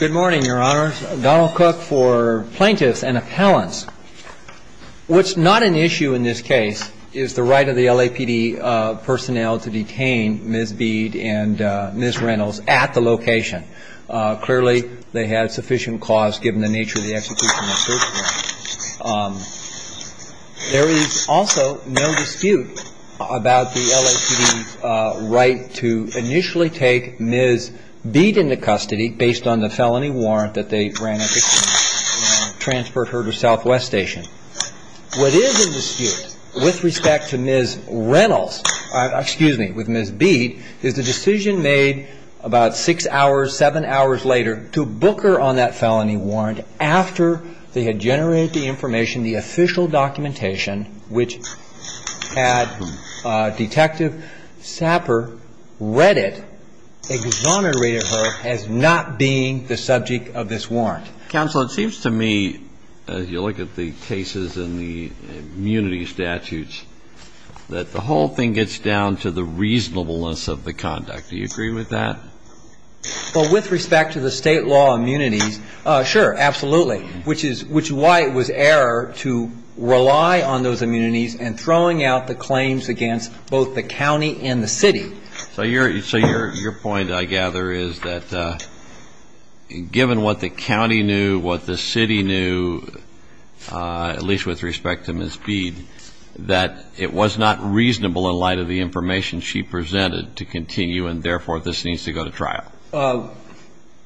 Good morning, your honors. Donald Cook for plaintiffs and appellants. What's not an issue in this case is the right of the LAPD personnel to detain Ms. Beed and Ms. Reynolds at the location. Clearly, they have sufficient cause given the nature of the execution. There is also no dispute about the LAPD's right to initially take Ms. Beed into custody based on the felony warrant that they transferred her to Southwest Station. What is in dispute with respect to Ms. Reynolds, excuse me, with Ms. Beed is the decision made about six hours, seven hours later to book her on that felony warrant after they had generated the information, the official documentation, which had Detective Sapper read it, exonerated her as not being the subject of this warrant. Counsel, it seems to me, as you look at the cases in the immunity statutes, that the whole thing gets down to the reasonableness of the conduct. Do you agree with that? Well, with respect to the state law immunities, sure, absolutely, which is why it was error to rely on those immunities and throwing out the claims against both the county and the city. So your point, I gather, is that given what the county knew, what the city knew, at least with respect to Ms. Beed, that it was not reasonable in light of the information she presented to continue and, therefore, this needs to go to trial.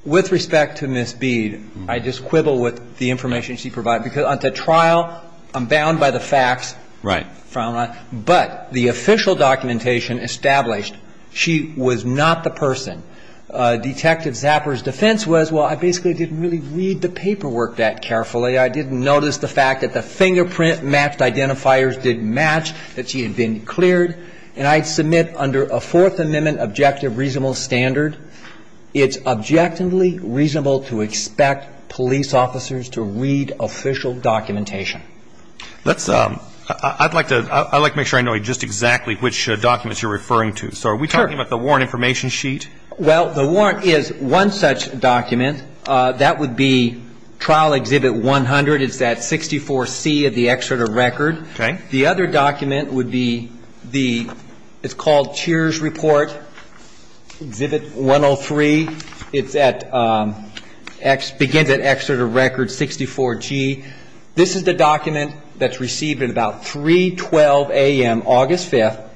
With respect to Ms. Beed, I just quibble with the information she provided. Because to trial, I'm bound by the facts. Right. But the official documentation established she was not the person. Detective Sapper's defense was, well, I basically didn't really read the paperwork that carefully. I didn't notice the fact that the fingerprint-matched identifiers didn't match, that she had been cleared. And I submit under a Fourth Amendment objective reasonable standard, it's objectively reasonable to expect police officers to read official documentation. I'd like to make sure I know just exactly which documents you're referring to. So are we talking about the warrant information sheet? Well, the warrant is one such document. That would be Trial Exhibit 100. It's that 64C of the excerpt of record. Okay. The other document would be the, it's called Tears Report, Exhibit 103. It's at, begins at excerpt of record 64G. This is the document that's received at about 312 a.m. August 5th,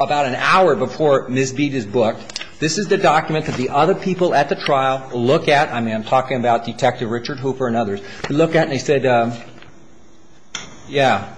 about an hour before Ms. Beed is booked. This is the document that the other people at the trial look at. I mean, I'm talking about Detective Richard Hooper and others. He looked at it and he said, yeah,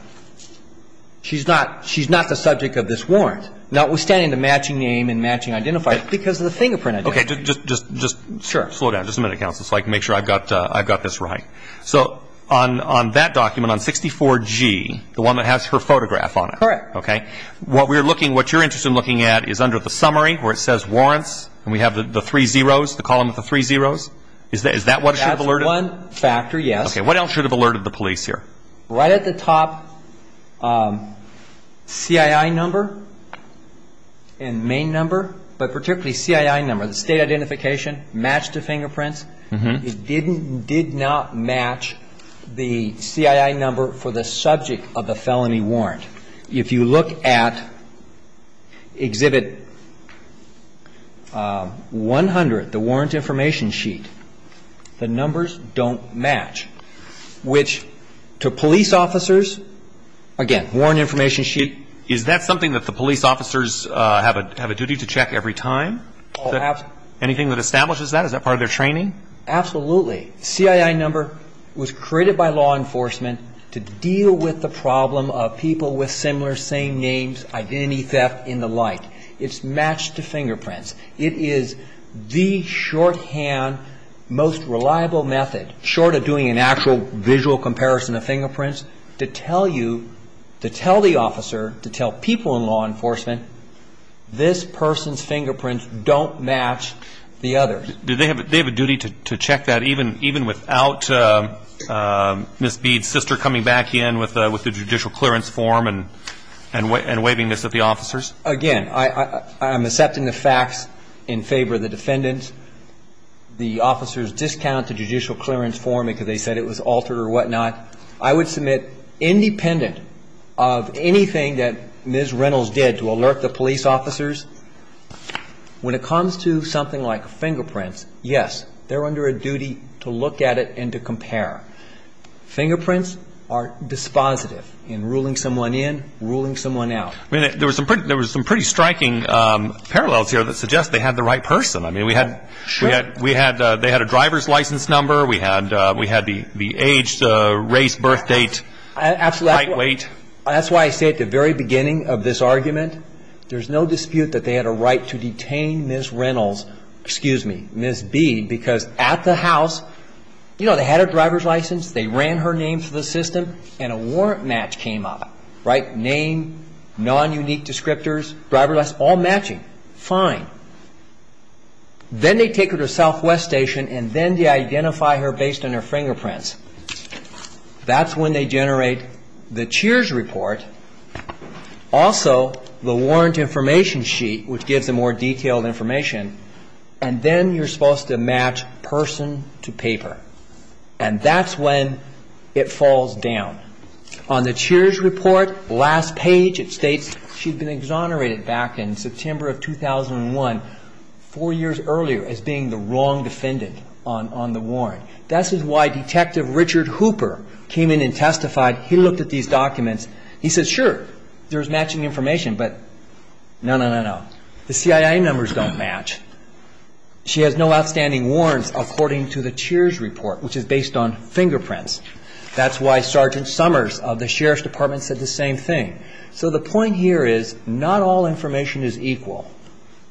she's not the subject of this warrant, notwithstanding the matching name and matching identifier, because of the fingerprint identifier. Okay. Just slow down just a minute, counsel, so I can make sure I've got this right. So on that document, on 64G, the one that has her photograph on it. Correct. Okay. What we're looking, what you're interested in looking at is under the summary where it says warrants, and we have the three zeros, the column with the three zeros. Is that what should have alerted? That's one factor, yes. Okay. What else should have alerted the police here? Right at the top, CII number and main number, but particularly CII number, the state identification, match to fingerprints. It didn't, did not match the CII number for the subject of the felony warrant. If you look at Exhibit 100, the warrant information sheet, the numbers don't match, which to police officers, again, warrant information sheet. Is that something that the police officers have a duty to check every time? Oh, absolutely. Anything that establishes that? Is that part of their training? Absolutely. CII number was created by law enforcement to deal with the problem of people with similar, same names, identity theft and the like. It's matched to fingerprints. It is the shorthand, most reliable method, short of doing an actual visual comparison of fingerprints, to tell you, to tell the officer, to tell people in law enforcement, this person's fingerprints don't match the others. Do they have a duty to check that even without Ms. Bede's sister coming back in with the judicial clearance form and waving this at the officers? Again, I'm accepting the facts in favor of the defendants. The officers discount the judicial clearance form because they said it was altered or whatnot. I would submit, independent of anything that Ms. Reynolds did to alert the police officers, when it comes to something like fingerprints, yes, they're under a duty to look at it and to compare. Fingerprints are dispositive in ruling someone in, ruling someone out. I mean, there was some pretty striking parallels here that suggest they had the right person. I mean, we had a driver's license number. We had the age, the race, birthdate, height, weight. That's why I say at the very beginning of this argument, there's no dispute that they had a right to detain Ms. Reynolds, excuse me, Ms. Bede, because at the house, you know, they had her driver's license, they ran her name through the system, and a warrant match came up. Right? Name, non-unique descriptors, driver's license, all matching. Fine. Then they take her to Southwest Station, and then they identify her based on her fingerprints. That's when they generate the Cheers report, also the warrant information sheet, which gives them more detailed information, and then you're supposed to match person to paper. And that's when it falls down. On the Cheers report, last page, it states she'd been exonerated back in September of 2001, four years earlier, as being the wrong defendant on the warrant. This is why Detective Richard Hooper came in and testified. He looked at these documents. He said, sure, there's matching information, but no, no, no, no. The CIA numbers don't match. She has no outstanding warrants according to the Cheers report, which is based on fingerprints. That's why Sergeant Summers of the Sheriff's Department said the same thing. So the point here is not all information is equal.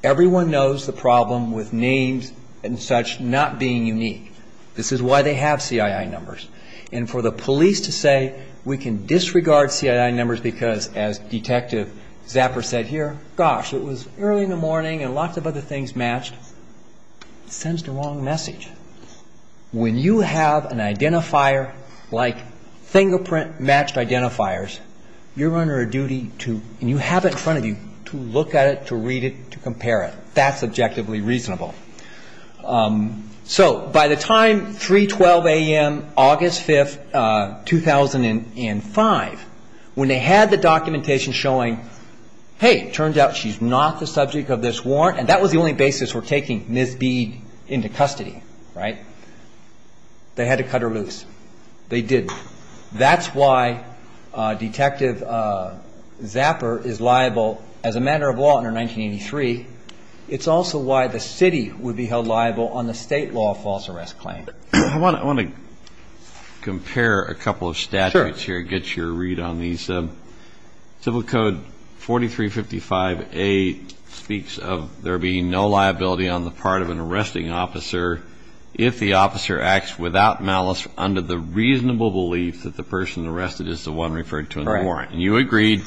Everyone knows the problem with names and such not being unique. This is why they have CIA numbers. And for the police to say we can disregard CIA numbers because, as Detective Zapper said here, gosh, it was early in the morning and lots of other things matched, sends the wrong message. When you have an identifier like fingerprint-matched identifiers, you're under a duty to, and you have it in front of you, to look at it, to read it, to compare it. That's objectively reasonable. So by the time 3.12 a.m., August 5, 2005, when they had the documentation showing, hey, it turns out she's not the subject of this warrant, and that was the only basis for taking Ms. Bead into custody, right, they had to cut her loose. They didn't. That's why Detective Zapper is liable as a matter of law under 1983. It's also why the city would be held liable on the state law false arrest claim. I want to compare a couple of statutes here, get your read on these. Civil Code 4355A speaks of there being no liability on the part of an arresting officer if the officer acts without malice under the reasonable belief that the person arrested is the one referred to in the warrant. And you agreed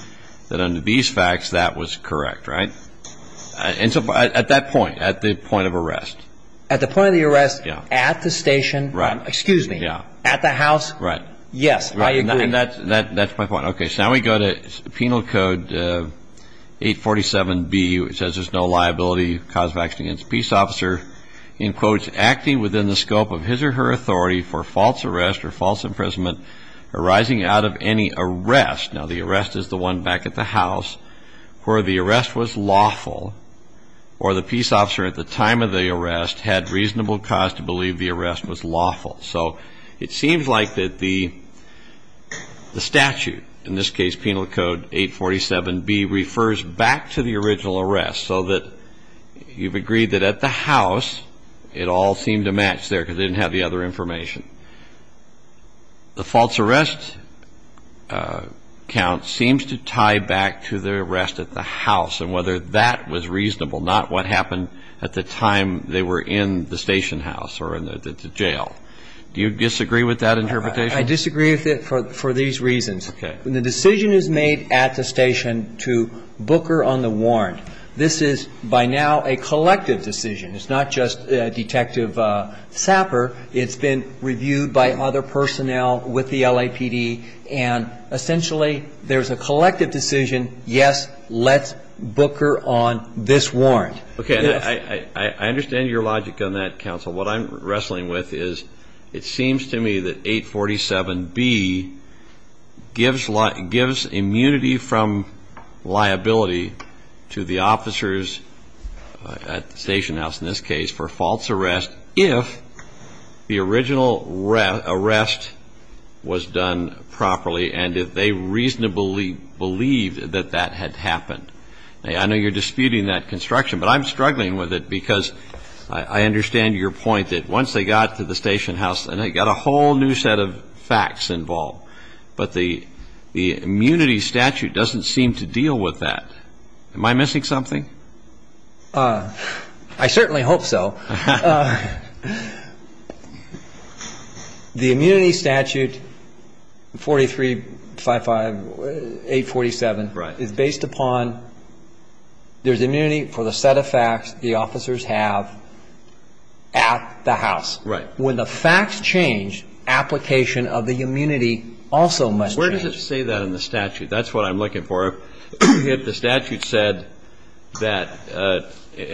that under these facts, that was correct, right? And so at that point, at the point of arrest. At the point of the arrest, at the station, excuse me, at the house, yes, I agree. And that's my point. Okay, so now we go to Penal Code 847B, which says there's no liability caused of action against a peace officer, in quotes, acting within the scope of his or her authority for false arrest or false imprisonment arising out of any arrest. Now, the arrest is the one back at the house where the arrest was lawful or the peace officer at the time of the arrest had reasonable cause to believe the arrest was lawful. So it seems like that the statute, in this case, Penal Code 847B, refers back to the original arrest so that you've agreed that at the house, it all seemed to match there because it didn't have the other information. The false arrest count seems to tie back to the arrest at the house and whether that was reasonable, not what happened at the time they were in the station house or in the jail. Do you disagree with that interpretation? I disagree with it for these reasons. Okay. The decision is made at the station to booker on the warrant. This is by now a collective decision. It's not just Detective Sapper. It's been reviewed by other personnel with the LAPD, and essentially there's a collective decision. Yes, let's booker on this warrant. Okay. I understand your logic on that, counsel. What I'm wrestling with is it seems to me that 847B gives immunity from liability to the officers at the station house in this case for false arrest if the original arrest was done properly and if they reasonably believed that that had happened. I know you're disputing that construction, but I'm struggling with it because I understand your point that once they got to the station house and they got a whole new set of facts involved, but the immunity statute doesn't seem to deal with that. Am I missing something? I certainly hope so. The immunity statute, 4355, 847, is based upon there's immunity for the set of facts the officers have at the house. Right. When the facts change, application of the immunity also must change. Where does it say that in the statute? That's what I'm looking for. The statute said that, a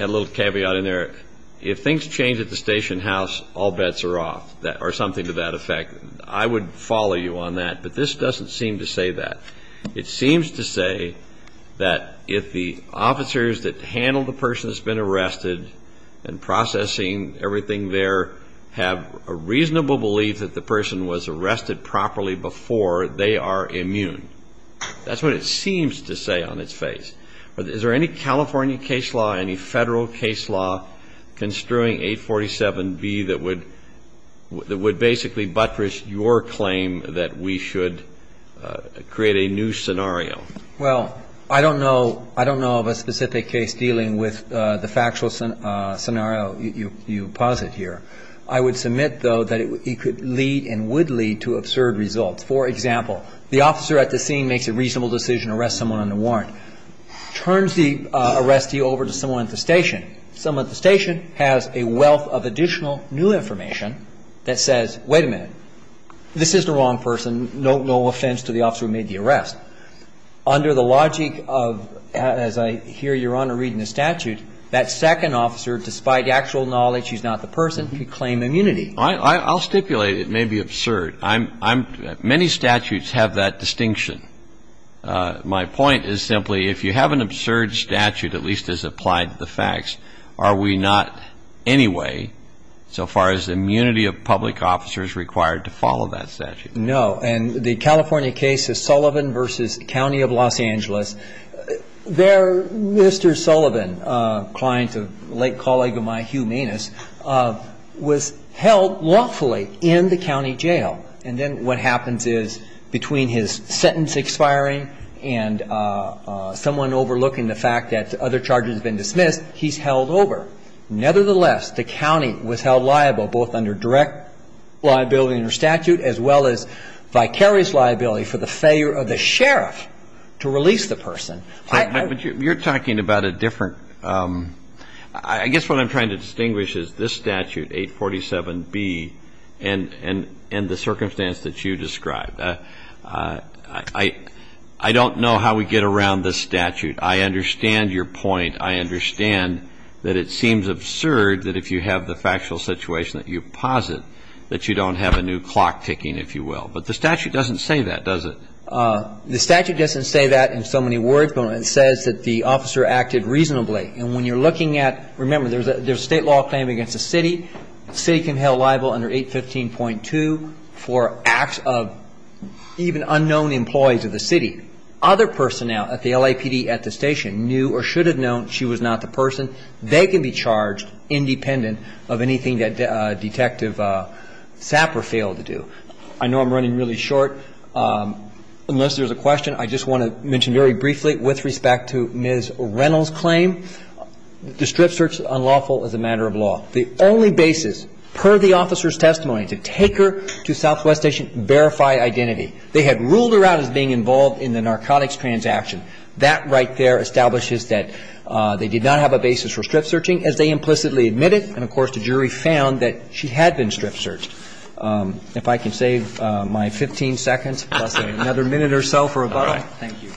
little caveat in there, if things change at the station house, all bets are off or something to that effect. I would follow you on that, but this doesn't seem to say that. It seems to say that if the officers that handle the person that's been arrested and processing everything there have a reasonable belief that the person was arrested properly before, they are immune. That's what it seems to say on its face. Is there any California case law, any Federal case law construing 847B that would basically buttress your claim that we should create a new scenario? Well, I don't know of a specific case dealing with the factual scenario you posit here. I would submit, though, that it could lead and would lead to absurd results. For example, the officer at the scene makes a reasonable decision to arrest someone under warrant, turns the arrestee over to someone at the station, someone at the station has a wealth of additional new information that says, wait a minute, this is the wrong person, no offense to the officer who made the arrest. Under the logic of, as I hear Your Honor read in the statute, that second officer, despite actual knowledge he's not the person, could claim immunity. I'll stipulate it may be absurd. Many statutes have that distinction. My point is simply, if you have an absurd statute, at least as applied to the facts, are we not anyway, so far as the immunity of public officers required to follow that statute? No. And the California case is Sullivan v. County of Los Angeles. There, Mr. Sullivan, a client, a late colleague of mine, Hugh Manis, was held lawfully in the county jail. And then what happens is, between his sentence expiring and someone overlooking the fact that other charges have been dismissed, he's held over. Nevertheless, the county was held liable both under direct liability under statute as well as vicarious liability for the failure of the sheriff to release the person. But you're talking about a different, I guess what I'm trying to distinguish is this statute, 847B, and the circumstance that you described. I don't know how we get around this statute. I understand your point. I understand that it seems absurd that if you have the factual situation that you posit that you don't have a new clock ticking, if you will. But the statute doesn't say that, does it? The statute doesn't say that in so many words, but it says that the officer acted reasonably. And when you're looking at, remember, there's a state law claim against the city. The city can held liable under 815.2 for acts of even unknown employees of the city. Other personnel at the LAPD at the station knew or should have known she was not the person. They can be charged independent of anything that Detective Sapper failed to do. I know I'm running really short. Unless there's a question, I just want to mention very briefly, with respect to Ms. Reynolds' claim, the strip search is unlawful as a matter of law. The only basis, per the officer's testimony, to take her to Southwest Station to verify identity. They had ruled her out as being involved in the narcotics transaction. That right there establishes that they did not have a basis for strip searching, as they implicitly admitted. And, of course, the jury found that she had been strip searched. If I can save my 15 seconds, plus another minute or so for rebuttal. All right. Thank you.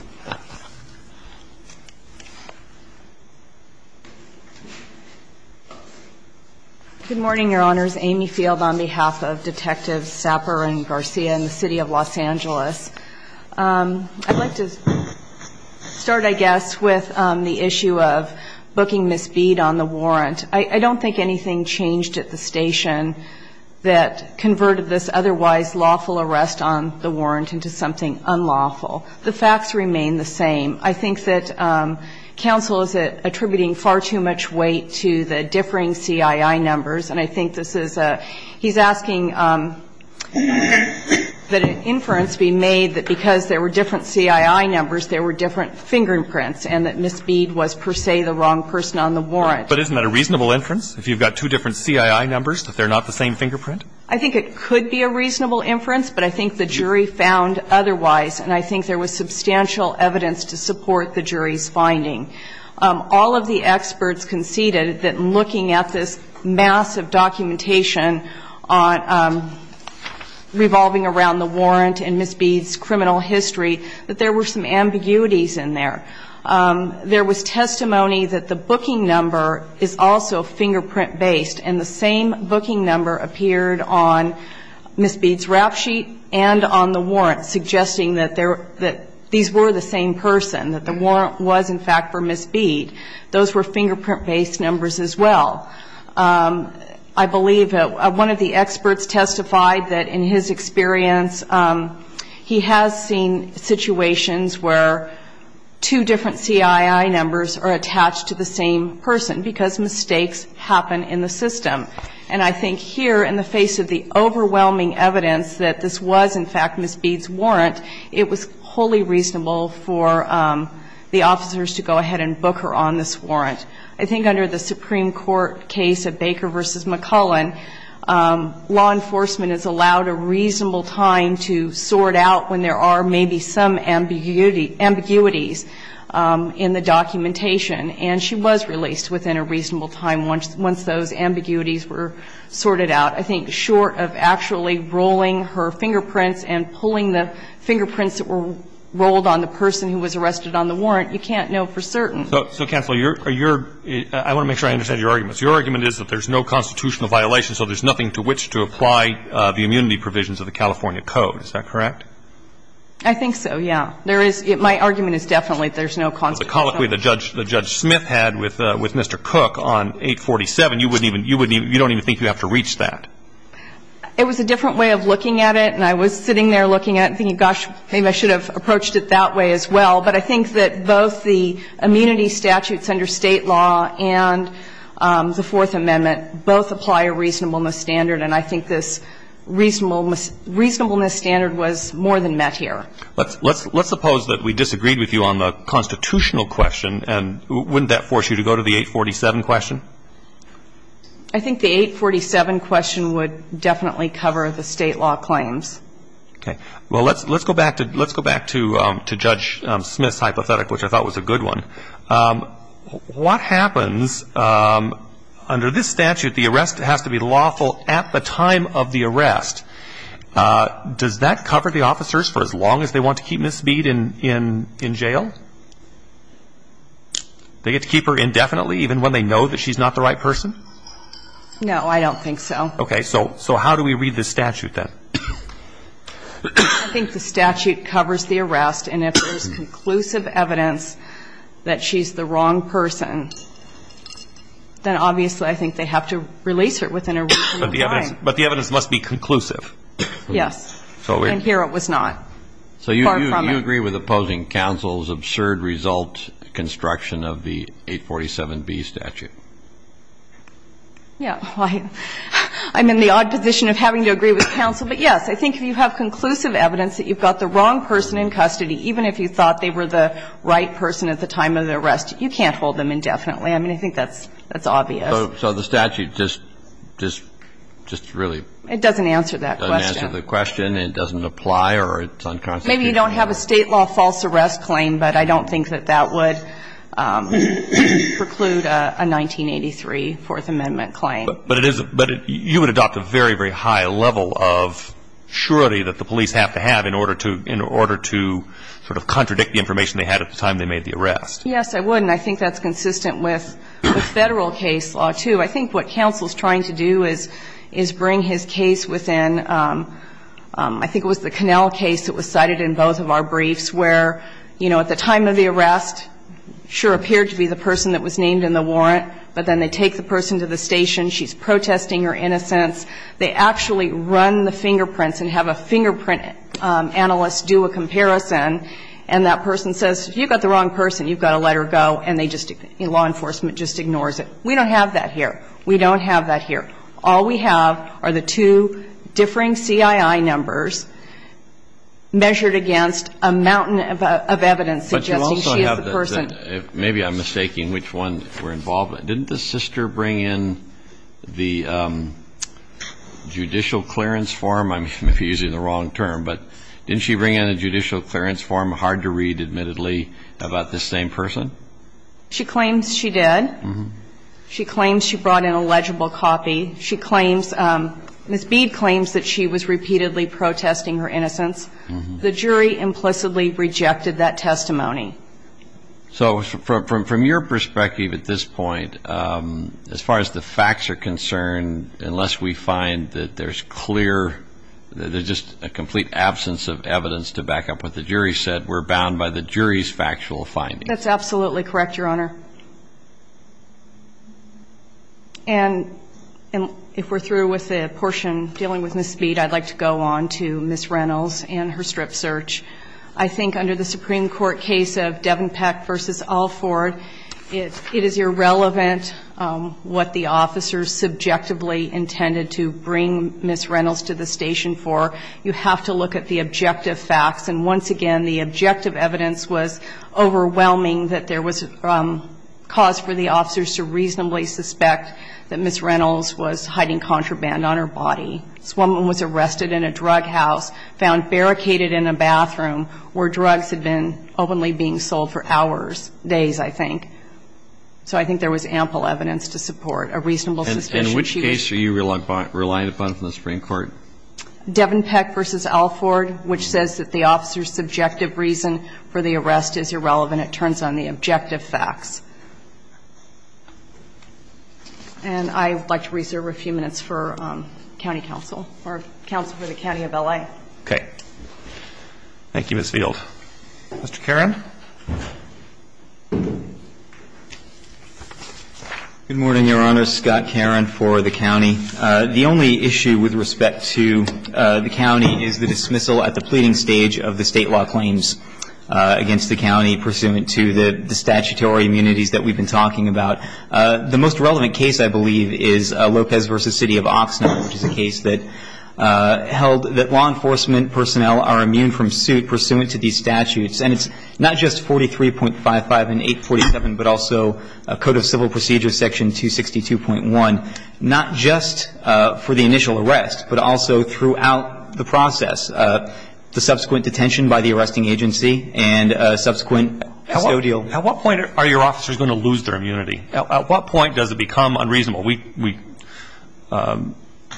Good morning, Your Honors. Amy Field on behalf of Detectives Sapper and Garcia in the City of Los Angeles. I'd like to start, I guess, with the issue of booking Ms. Bead on the warrant. I don't think anything changed at the station that converted this otherwise lawful arrest on the warrant into something unlawful. The facts remain the same. I think that counsel is attributing far too much weight to the differing CII numbers. And I think this is a he's asking that an inference be made that because there were different CII numbers, there were different fingerprints, and that Ms. Bead was, per se, the wrong person on the warrant. But isn't that a reasonable inference? If you've got two different CII numbers, that they're not the same fingerprint? I think it could be a reasonable inference, but I think the jury found otherwise, and I think there was substantial evidence to support the jury's finding. All of the experts conceded that looking at this massive documentation revolving around the warrant and Ms. Bead's criminal history, that there were some ambiguities in there. There was testimony that the booking number is also fingerprint-based, and the same booking number appeared on Ms. Bead's rap sheet and on the warrant, suggesting that these were the same person, that the warrant was, in fact, for Ms. Bead. Those were fingerprint-based numbers as well. I believe that one of the experts testified that in his experience, he has seen situations where two different CII numbers are attached to the same person because mistakes happen in the system. And I think here, in the face of the overwhelming evidence that this was, in fact, Ms. Bead's warrant, it was wholly reasonable for the officers to go ahead and book her on this warrant. I think under the Supreme Court case of Baker v. McCullen, law enforcement is allowed a reasonable time to sort out when there are maybe some ambiguities in the documentation. And she was released within a reasonable time once those ambiguities were sorted out. I think short of actually rolling her fingerprints and pulling the fingerprints that were rolled on the person who was arrested on the warrant, you can't know for certain. So, counsel, your – I want to make sure I understand your argument. Your argument is that there's no constitutional violation, so there's nothing to which to apply the immunity provisions of the California Code. Is that correct? I think so, yeah. There is – my argument is definitely there's no constitutional violation. The other thing I'm wondering is, if you look at the other articles, the colloquy that Judge Smith had with Mr. Cook on 847, you wouldn't even – you don't even think you have to reach that. It was a different way of looking at it, and I was sitting there looking at it, thinking, gosh, maybe I should have approached it that way as well. But I think that both the immunity statutes under State law and the Fourth Amendment both apply a reasonableness standard, and I think this reasonableness standard was more than met here. Let's suppose that we disagreed with you on the constitutional question, and wouldn't that force you to go to the 847 question? I think the 847 question would definitely cover the State law claims. Okay. Well, let's go back to Judge Smith's hypothetic, which I thought was a good one. What happens under this statute, the arrest has to be lawful at the time of the arrest. Does that cover the officers for as long as they want to keep Ms. Mead in jail? They get to keep her indefinitely, even when they know that she's not the right person? No, I don't think so. Okay. So how do we read this statute then? I think the statute covers the arrest, and if there's conclusive evidence that she's the wrong person, then obviously I think they have to release her within a reasonable time. But the evidence must be conclusive. Yes. And here it was not. Far from it. So you agree with opposing counsel's absurd result construction of the 847B statute? Yeah. I'm in the odd position of having to agree with counsel. But, yes, I think if you have conclusive evidence that you've got the wrong person in custody, even if you thought they were the right person at the time of the arrest, you can't hold them indefinitely. I mean, I think that's obvious. So the statute just really doesn't answer that question. Doesn't answer the question. It doesn't apply or it's unconstitutional. Maybe you don't have a state law false arrest claim, but I don't think that that would preclude a 1983 Fourth Amendment claim. But you would adopt a very, very high level of surety that the police have to have in order to sort of contradict the information they had at the time they made the arrest. Yes, I would. And I think that's consistent with Federal case law, too. I think what counsel's trying to do is bring his case within, I think it was the Connell case that was cited in both of our briefs, where, you know, at the time of the arrest, sure appeared to be the person that was named in the warrant, but then they take the person to the station, she's protesting her innocence. They actually run the fingerprints and have a fingerprint analyst do a comparison and that person says, you've got the wrong person, you've got to let her go, and they just, law enforcement just ignores it. We don't have that here. We don't have that here. All we have are the two differing CII numbers measured against a mountain of evidence suggesting she is the person. But you also have the, maybe I'm mistaking which one we're involved with. Didn't the sister bring in the judicial clearance form? I may be using the wrong term, but didn't she bring in a judicial clearance form, hard to read, admittedly, about this same person? She claims she did. She claims she brought in a legible copy. She claims, Ms. Bede claims that she was repeatedly protesting her innocence. The jury implicitly rejected that testimony. So from your perspective at this point, as far as the facts are concerned, unless we find that there's clear, there's just a complete absence of evidence to back up what the jury said, we're bound by the jury's factual findings. That's absolutely correct, Your Honor. And if we're through with the portion dealing with Ms. Bede, I'd like to go on to Ms. Reynolds and her strip search. I think under the Supreme Court case of Devenpeck v. Allford, it is irrelevant what the officers subjectively intended to bring Ms. Reynolds to the station for. You have to look at the objective facts. And once again, the objective evidence was overwhelming that there was cause for the officers to reasonably suspect that Ms. Reynolds was hiding contraband on her body. This woman was arrested in a drug house, found barricaded in a bathroom where drugs had been openly being sold for hours, days, I think. So I think there was ample evidence to support a reasonable suspicion. And in which case are you relying upon from the Supreme Court? Devenpeck v. Allford, which says that the officers' subjective reason for the arrest is irrelevant. It turns on the objective facts. And I would like to reserve a few minutes for county counsel, or counsel for the county of L.A. Okay. Thank you, Ms. Field. Mr. Caron. Good morning, Your Honor. Scott Caron for the county. The only issue with respect to the county is the dismissal at the pleading stage of the state law claims against the county pursuant to the statutory immunities that we've been talking about. The most relevant case, I believe, is Lopez v. City of Oxnard, which is a case that held that law enforcement personnel are immune from suit pursuant to these statutes. And it's not just 43.55 and 847, but also Code of Civil Procedures Section 262.1, not just for the initial arrest, but also throughout the process, the subsequent detention by the arresting agency and subsequent custodial. At what point are your officers going to lose their immunity? At what point does it become unreasonable? We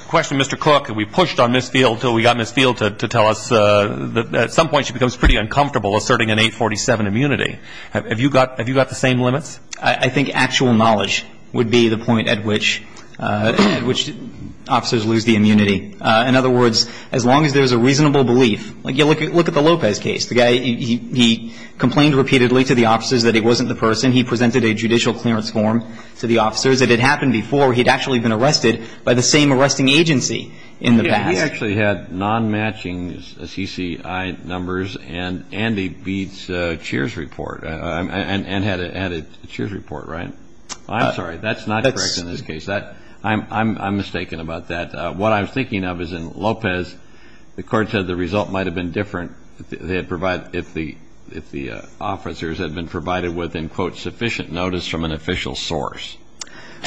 questioned Mr. Cook, and we pushed on Ms. Field until we got Ms. Field to tell us that at some point she becomes pretty uncomfortable asserting an 847 immunity. Have you got the same limits? I think actual knowledge would be the point at which officers lose the immunity. In other words, as long as there's a reasonable belief. Look at the Lopez case. The guy, he complained repeatedly to the officers that he wasn't the person. He presented a judicial clearance form to the officers. It had happened before. He had actually been arrested by the same arresting agency in the past. He actually had non-matching CCI numbers and Andy Beat's cheers report, and had a cheers report, right? I'm sorry. That's not correct in this case. I'm mistaken about that. What I was thinking of is in Lopez, the court said the result might have been different if the officers had been provided with, in quote, sufficient notice from an official source.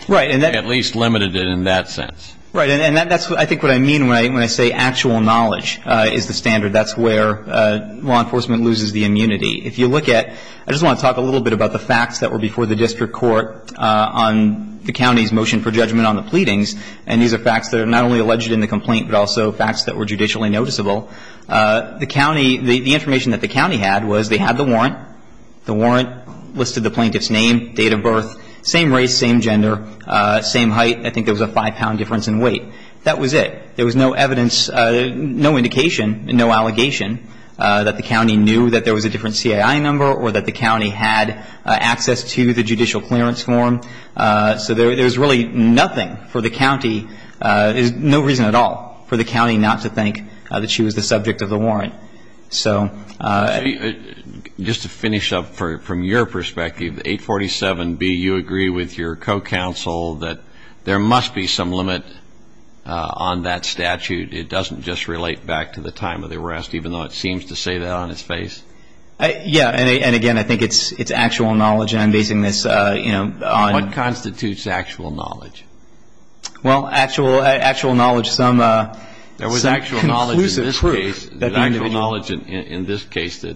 Right. At least limited it in that sense. Right. And that's, I think, what I mean when I say actual knowledge is the standard. That's where law enforcement loses the immunity. If you look at, I just want to talk a little bit about the facts that were before the district court on the county's motion for judgment on the pleadings. And these are facts that are not only alleged in the complaint, but also facts that were judicially noticeable. The county, the information that the county had was they had the warrant. The warrant listed the plaintiff's name, date of birth, same race, same gender, same height. I think there was a five-pound difference in weight. That was it. There was no evidence, no indication, no allegation that the county knew that there was a different CAI number or that the county had access to the judicial clearance form. So there was really nothing for the county, no reason at all for the county not to think that she was the subject of the warrant. Just to finish up from your perspective, 847B, you agree with your co-counsel that there must be some limit on that statute. It doesn't just relate back to the time of the arrest, even though it seems to say that on its face? Yeah. And, again, I think it's actual knowledge. And I'm basing this on – What constitutes actual knowledge? Well, actual knowledge, some – There was actual knowledge in this case that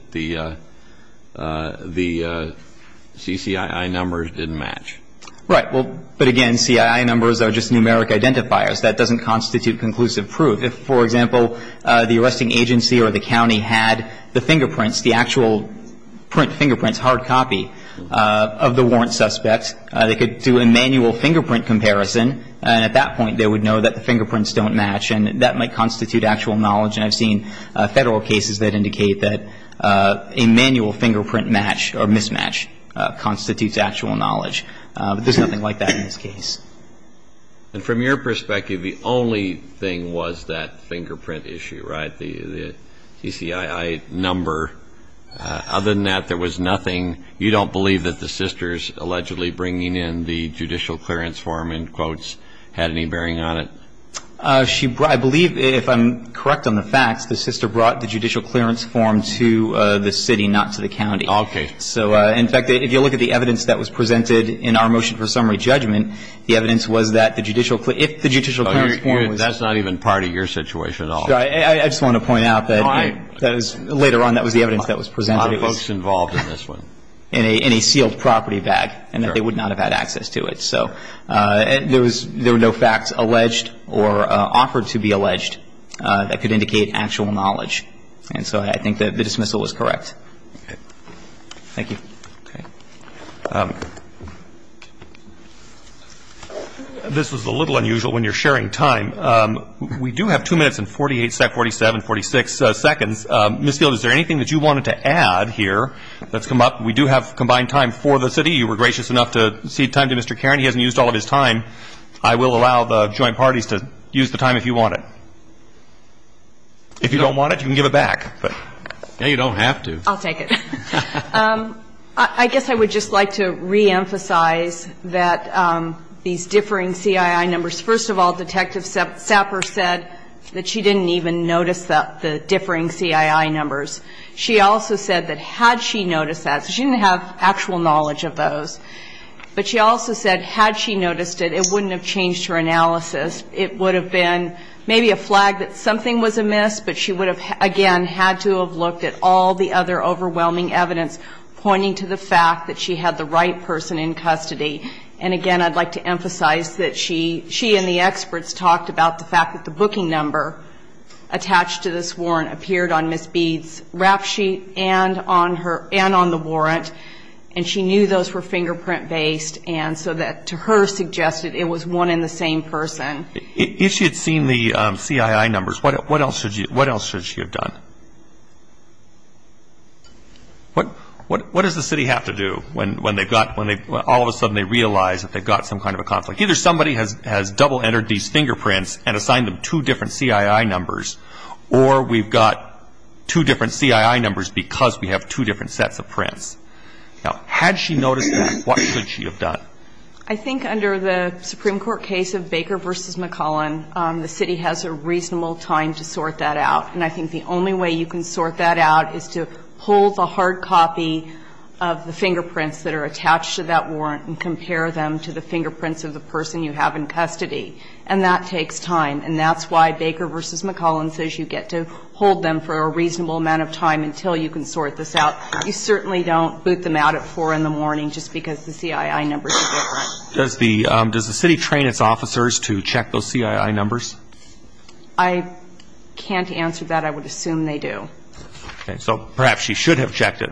the CCII numbers didn't match. Right. Well, but, again, CII numbers are just numeric identifiers. That doesn't constitute conclusive proof. If, for example, the arresting agency or the county had the fingerprints, the actual print fingerprints, hard copy of the warrant suspect, they could do a manual fingerprint comparison, and at that point they would know that the fingerprints don't match, and that might constitute actual knowledge. And I've seen Federal cases that indicate that a manual fingerprint match or mismatch constitutes actual knowledge. There's nothing like that in this case. And from your perspective, the only thing was that fingerprint issue, right? The CCII number. Other than that, there was nothing. You don't believe that the sisters allegedly bringing in the judicial clearance form, in quotes, had any bearing on it? She – I believe, if I'm correct on the facts, the sister brought the judicial clearance form to the city, not to the county. Okay. So, in fact, if you look at the evidence that was presented in our motion for summary judgment, the evidence was that the judicial – if the judicial clearance form was – That's not even part of your situation at all. I just want to point out that later on that was the evidence that was presented. A lot of folks involved in this one. In a sealed property bag, and that they would not have had access to it. So there was – there were no facts alleged or offered to be alleged that could indicate actual knowledge. And so I think that the dismissal was correct. Okay. Thank you. Okay. This was a little unusual when you're sharing time. We do have two minutes and 48 – 47, 46 seconds. Ms. Field, is there anything that you wanted to add here that's come up? We do have combined time for the city. You were gracious enough to cede time to Mr. Caron. He hasn't used all of his time. I will allow the joint parties to use the time if you want it. If you don't want it, you can give it back. You don't have to. I'll take it. I guess I would just like to reemphasize that these differing CII numbers, first of all, Detective Sapper said that she didn't even notice the differing CII numbers. She also said that had she noticed that, so she didn't have actual knowledge of those, but she also said had she noticed it, it wouldn't have changed her analysis. It would have been maybe a flag that something was amiss, but she would have, again, had to have looked at all the other overwhelming evidence pointing to the fact that she had the right person in custody. And, again, I'd like to emphasize that she and the experts talked about the fact that the booking number attached to this warrant appeared on Ms. Bede's rap sheet and on her – and on the warrant, and she knew those were fingerprint-based and so that to her suggested it was one and the same person. If she had seen the CII numbers, what else should she have done? What does the city have to do when they've got – when all of a sudden they realize that they've got some kind of a conflict? Either somebody has double-entered these fingerprints and assigned them two different CII numbers, or we've got two different CII numbers because we have two different sets of prints. Now, had she noticed that, what should she have done? I think under the Supreme Court case of Baker v. McCollin, the city has a reasonable time to sort that out. And I think the only way you can sort that out is to pull the hard copy of the fingerprints that are attached to that warrant and compare them to the fingerprints of the person you have in custody. And that takes time. And that's why Baker v. McCollin says you get to hold them for a reasonable amount of time until you can sort this out. You certainly don't boot them out at 4 in the morning just because the CII numbers are different. Does the city train its officers to check those CII numbers? I can't answer that. I would assume they do. So perhaps she should have checked the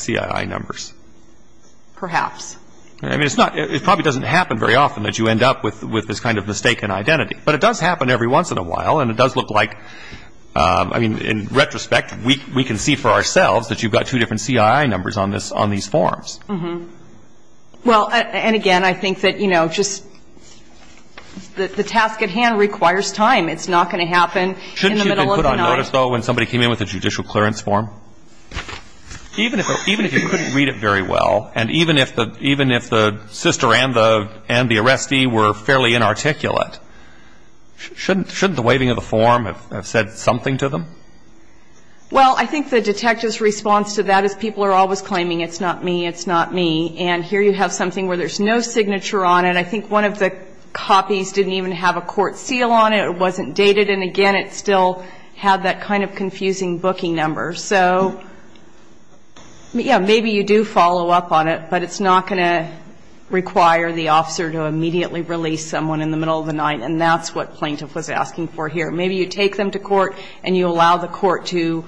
CII numbers. Perhaps. I mean, it probably doesn't happen very often that you end up with this kind of mistaken identity. But it does happen every once in a while, and it does look like – I mean, in retrospect, we can see for ourselves that you've got two different CII numbers on these forms. Well, and again, I think that, you know, just the task at hand requires time. It's not going to happen in the middle of the night. Shouldn't you have been put on notice, though, when somebody came in with a judicial clearance form? Even if you couldn't read it very well, and even if the sister and the arrestee were fairly inarticulate, shouldn't the waiving of the form have said something to them? Well, I think the detective's response to that is people are always claiming it's not me, it's not me. And here you have something where there's no signature on it. I think one of the copies didn't even have a court seal on it. It wasn't dated. And, again, it still had that kind of confusing booking number. So, yeah, maybe you do follow up on it, but it's not going to require the officer to immediately release someone in the middle of the night, and that's what plaintiff was asking for here. Maybe you take them to court and you allow the court to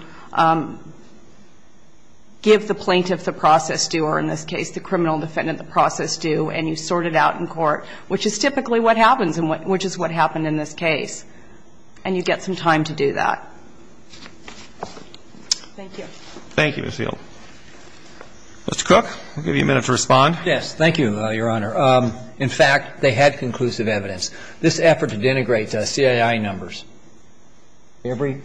give the plaintiff the process due, or in this case the criminal defendant the process due, and you sort it out in court, which is typically what happens, and which is what happened in this case. And you get some time to do that. Thank you. Thank you, Ms. Hill. Mr. Cook, I'll give you a minute to respond. Yes. Thank you, Your Honor. In fact, they had conclusive evidence. This effort to denigrate CII numbers, every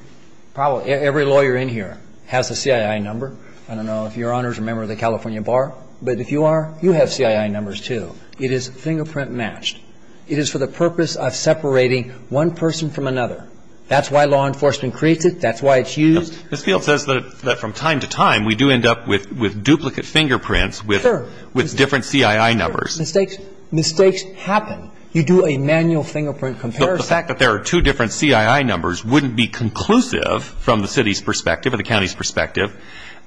lawyer in here has a CII number. I don't know if Your Honors are members of the California Bar, but if you are, you have CII numbers too. It is fingerprint matched. It is for the purpose of separating one person from another. That's why law enforcement creates it. That's why it's used. Ms. Field says that from time to time we do end up with duplicate fingerprints with different CII numbers. Mistakes happen. You do a manual fingerprint comparison. The fact that there are two different CII numbers wouldn't be conclusive from the city's perspective or the county's perspective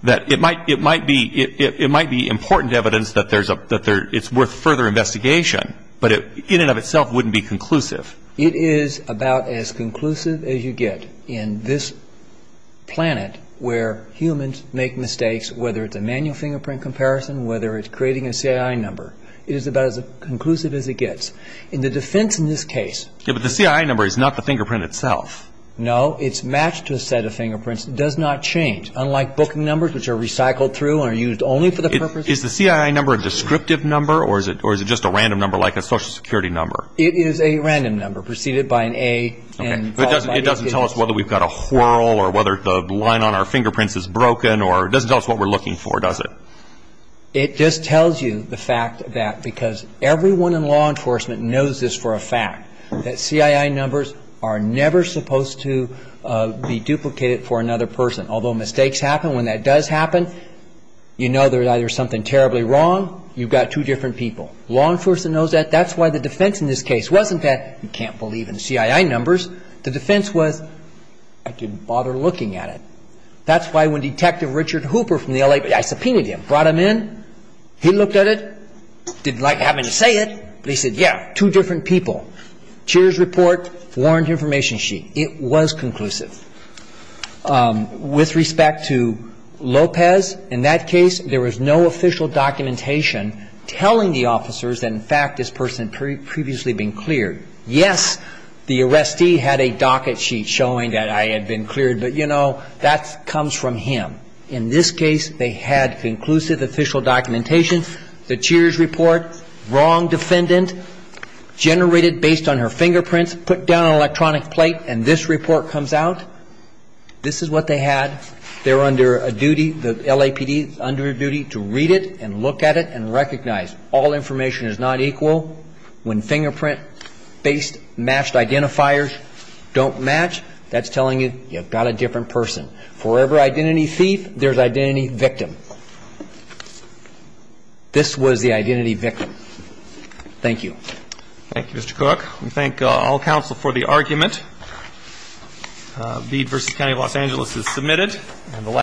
that it might be important evidence that it's worth further investigation, but in and of itself wouldn't be conclusive. It is about as conclusive as you get in this planet where humans make mistakes, whether it's a manual fingerprint comparison, whether it's creating a CII number. It is about as conclusive as it gets. In the defense in this case. Yeah, but the CII number is not the fingerprint itself. No, it's matched to a set of fingerprints. It does not change, unlike booking numbers which are recycled through and are used only for that purpose. Is the CII number a descriptive number or is it just a random number like a Social Security number? It is a random number preceded by an A and followed by an H. It doesn't tell us whether we've got a whorl or whether the line on our fingerprints is broken or it doesn't tell us what we're looking for, does it? It just tells you the fact that because everyone in law enforcement knows this for a fact, that CII numbers are never supposed to be duplicated for another person, although mistakes happen. When that does happen, you know there's either something terribly wrong. You've got two different people. Law enforcement knows that. That's why the defense in this case wasn't that you can't believe in CII numbers. The defense was I didn't bother looking at it. That's why when Detective Richard Hooper from the L.A. I subpoenaed him, brought him in, he looked at it, didn't like having to say it, but he said, yeah, two different people. Cheers report, warrant information sheet. It was conclusive. With respect to Lopez, in that case, there was no official documentation telling the officers that in fact this person had previously been cleared. Yes, the arrestee had a docket sheet showing that I had been cleared, but, you know, that comes from him. In this case, they had conclusive official documentation. The Cheers report, wrong defendant, generated based on her fingerprints, put down an electronic plate, and this report comes out. This is what they had. They're under a duty, the LAPD is under a duty to read it and look at it and recognize. All information is not equal. When fingerprint-based matched identifiers don't match, that's telling you you've got a different person. For every identity thief, there's identity victim. This was the identity victim. Thank you. Thank you, Mr. Cook. We thank all counsel for the argument. Bede v. County of Los Angeles is submitted.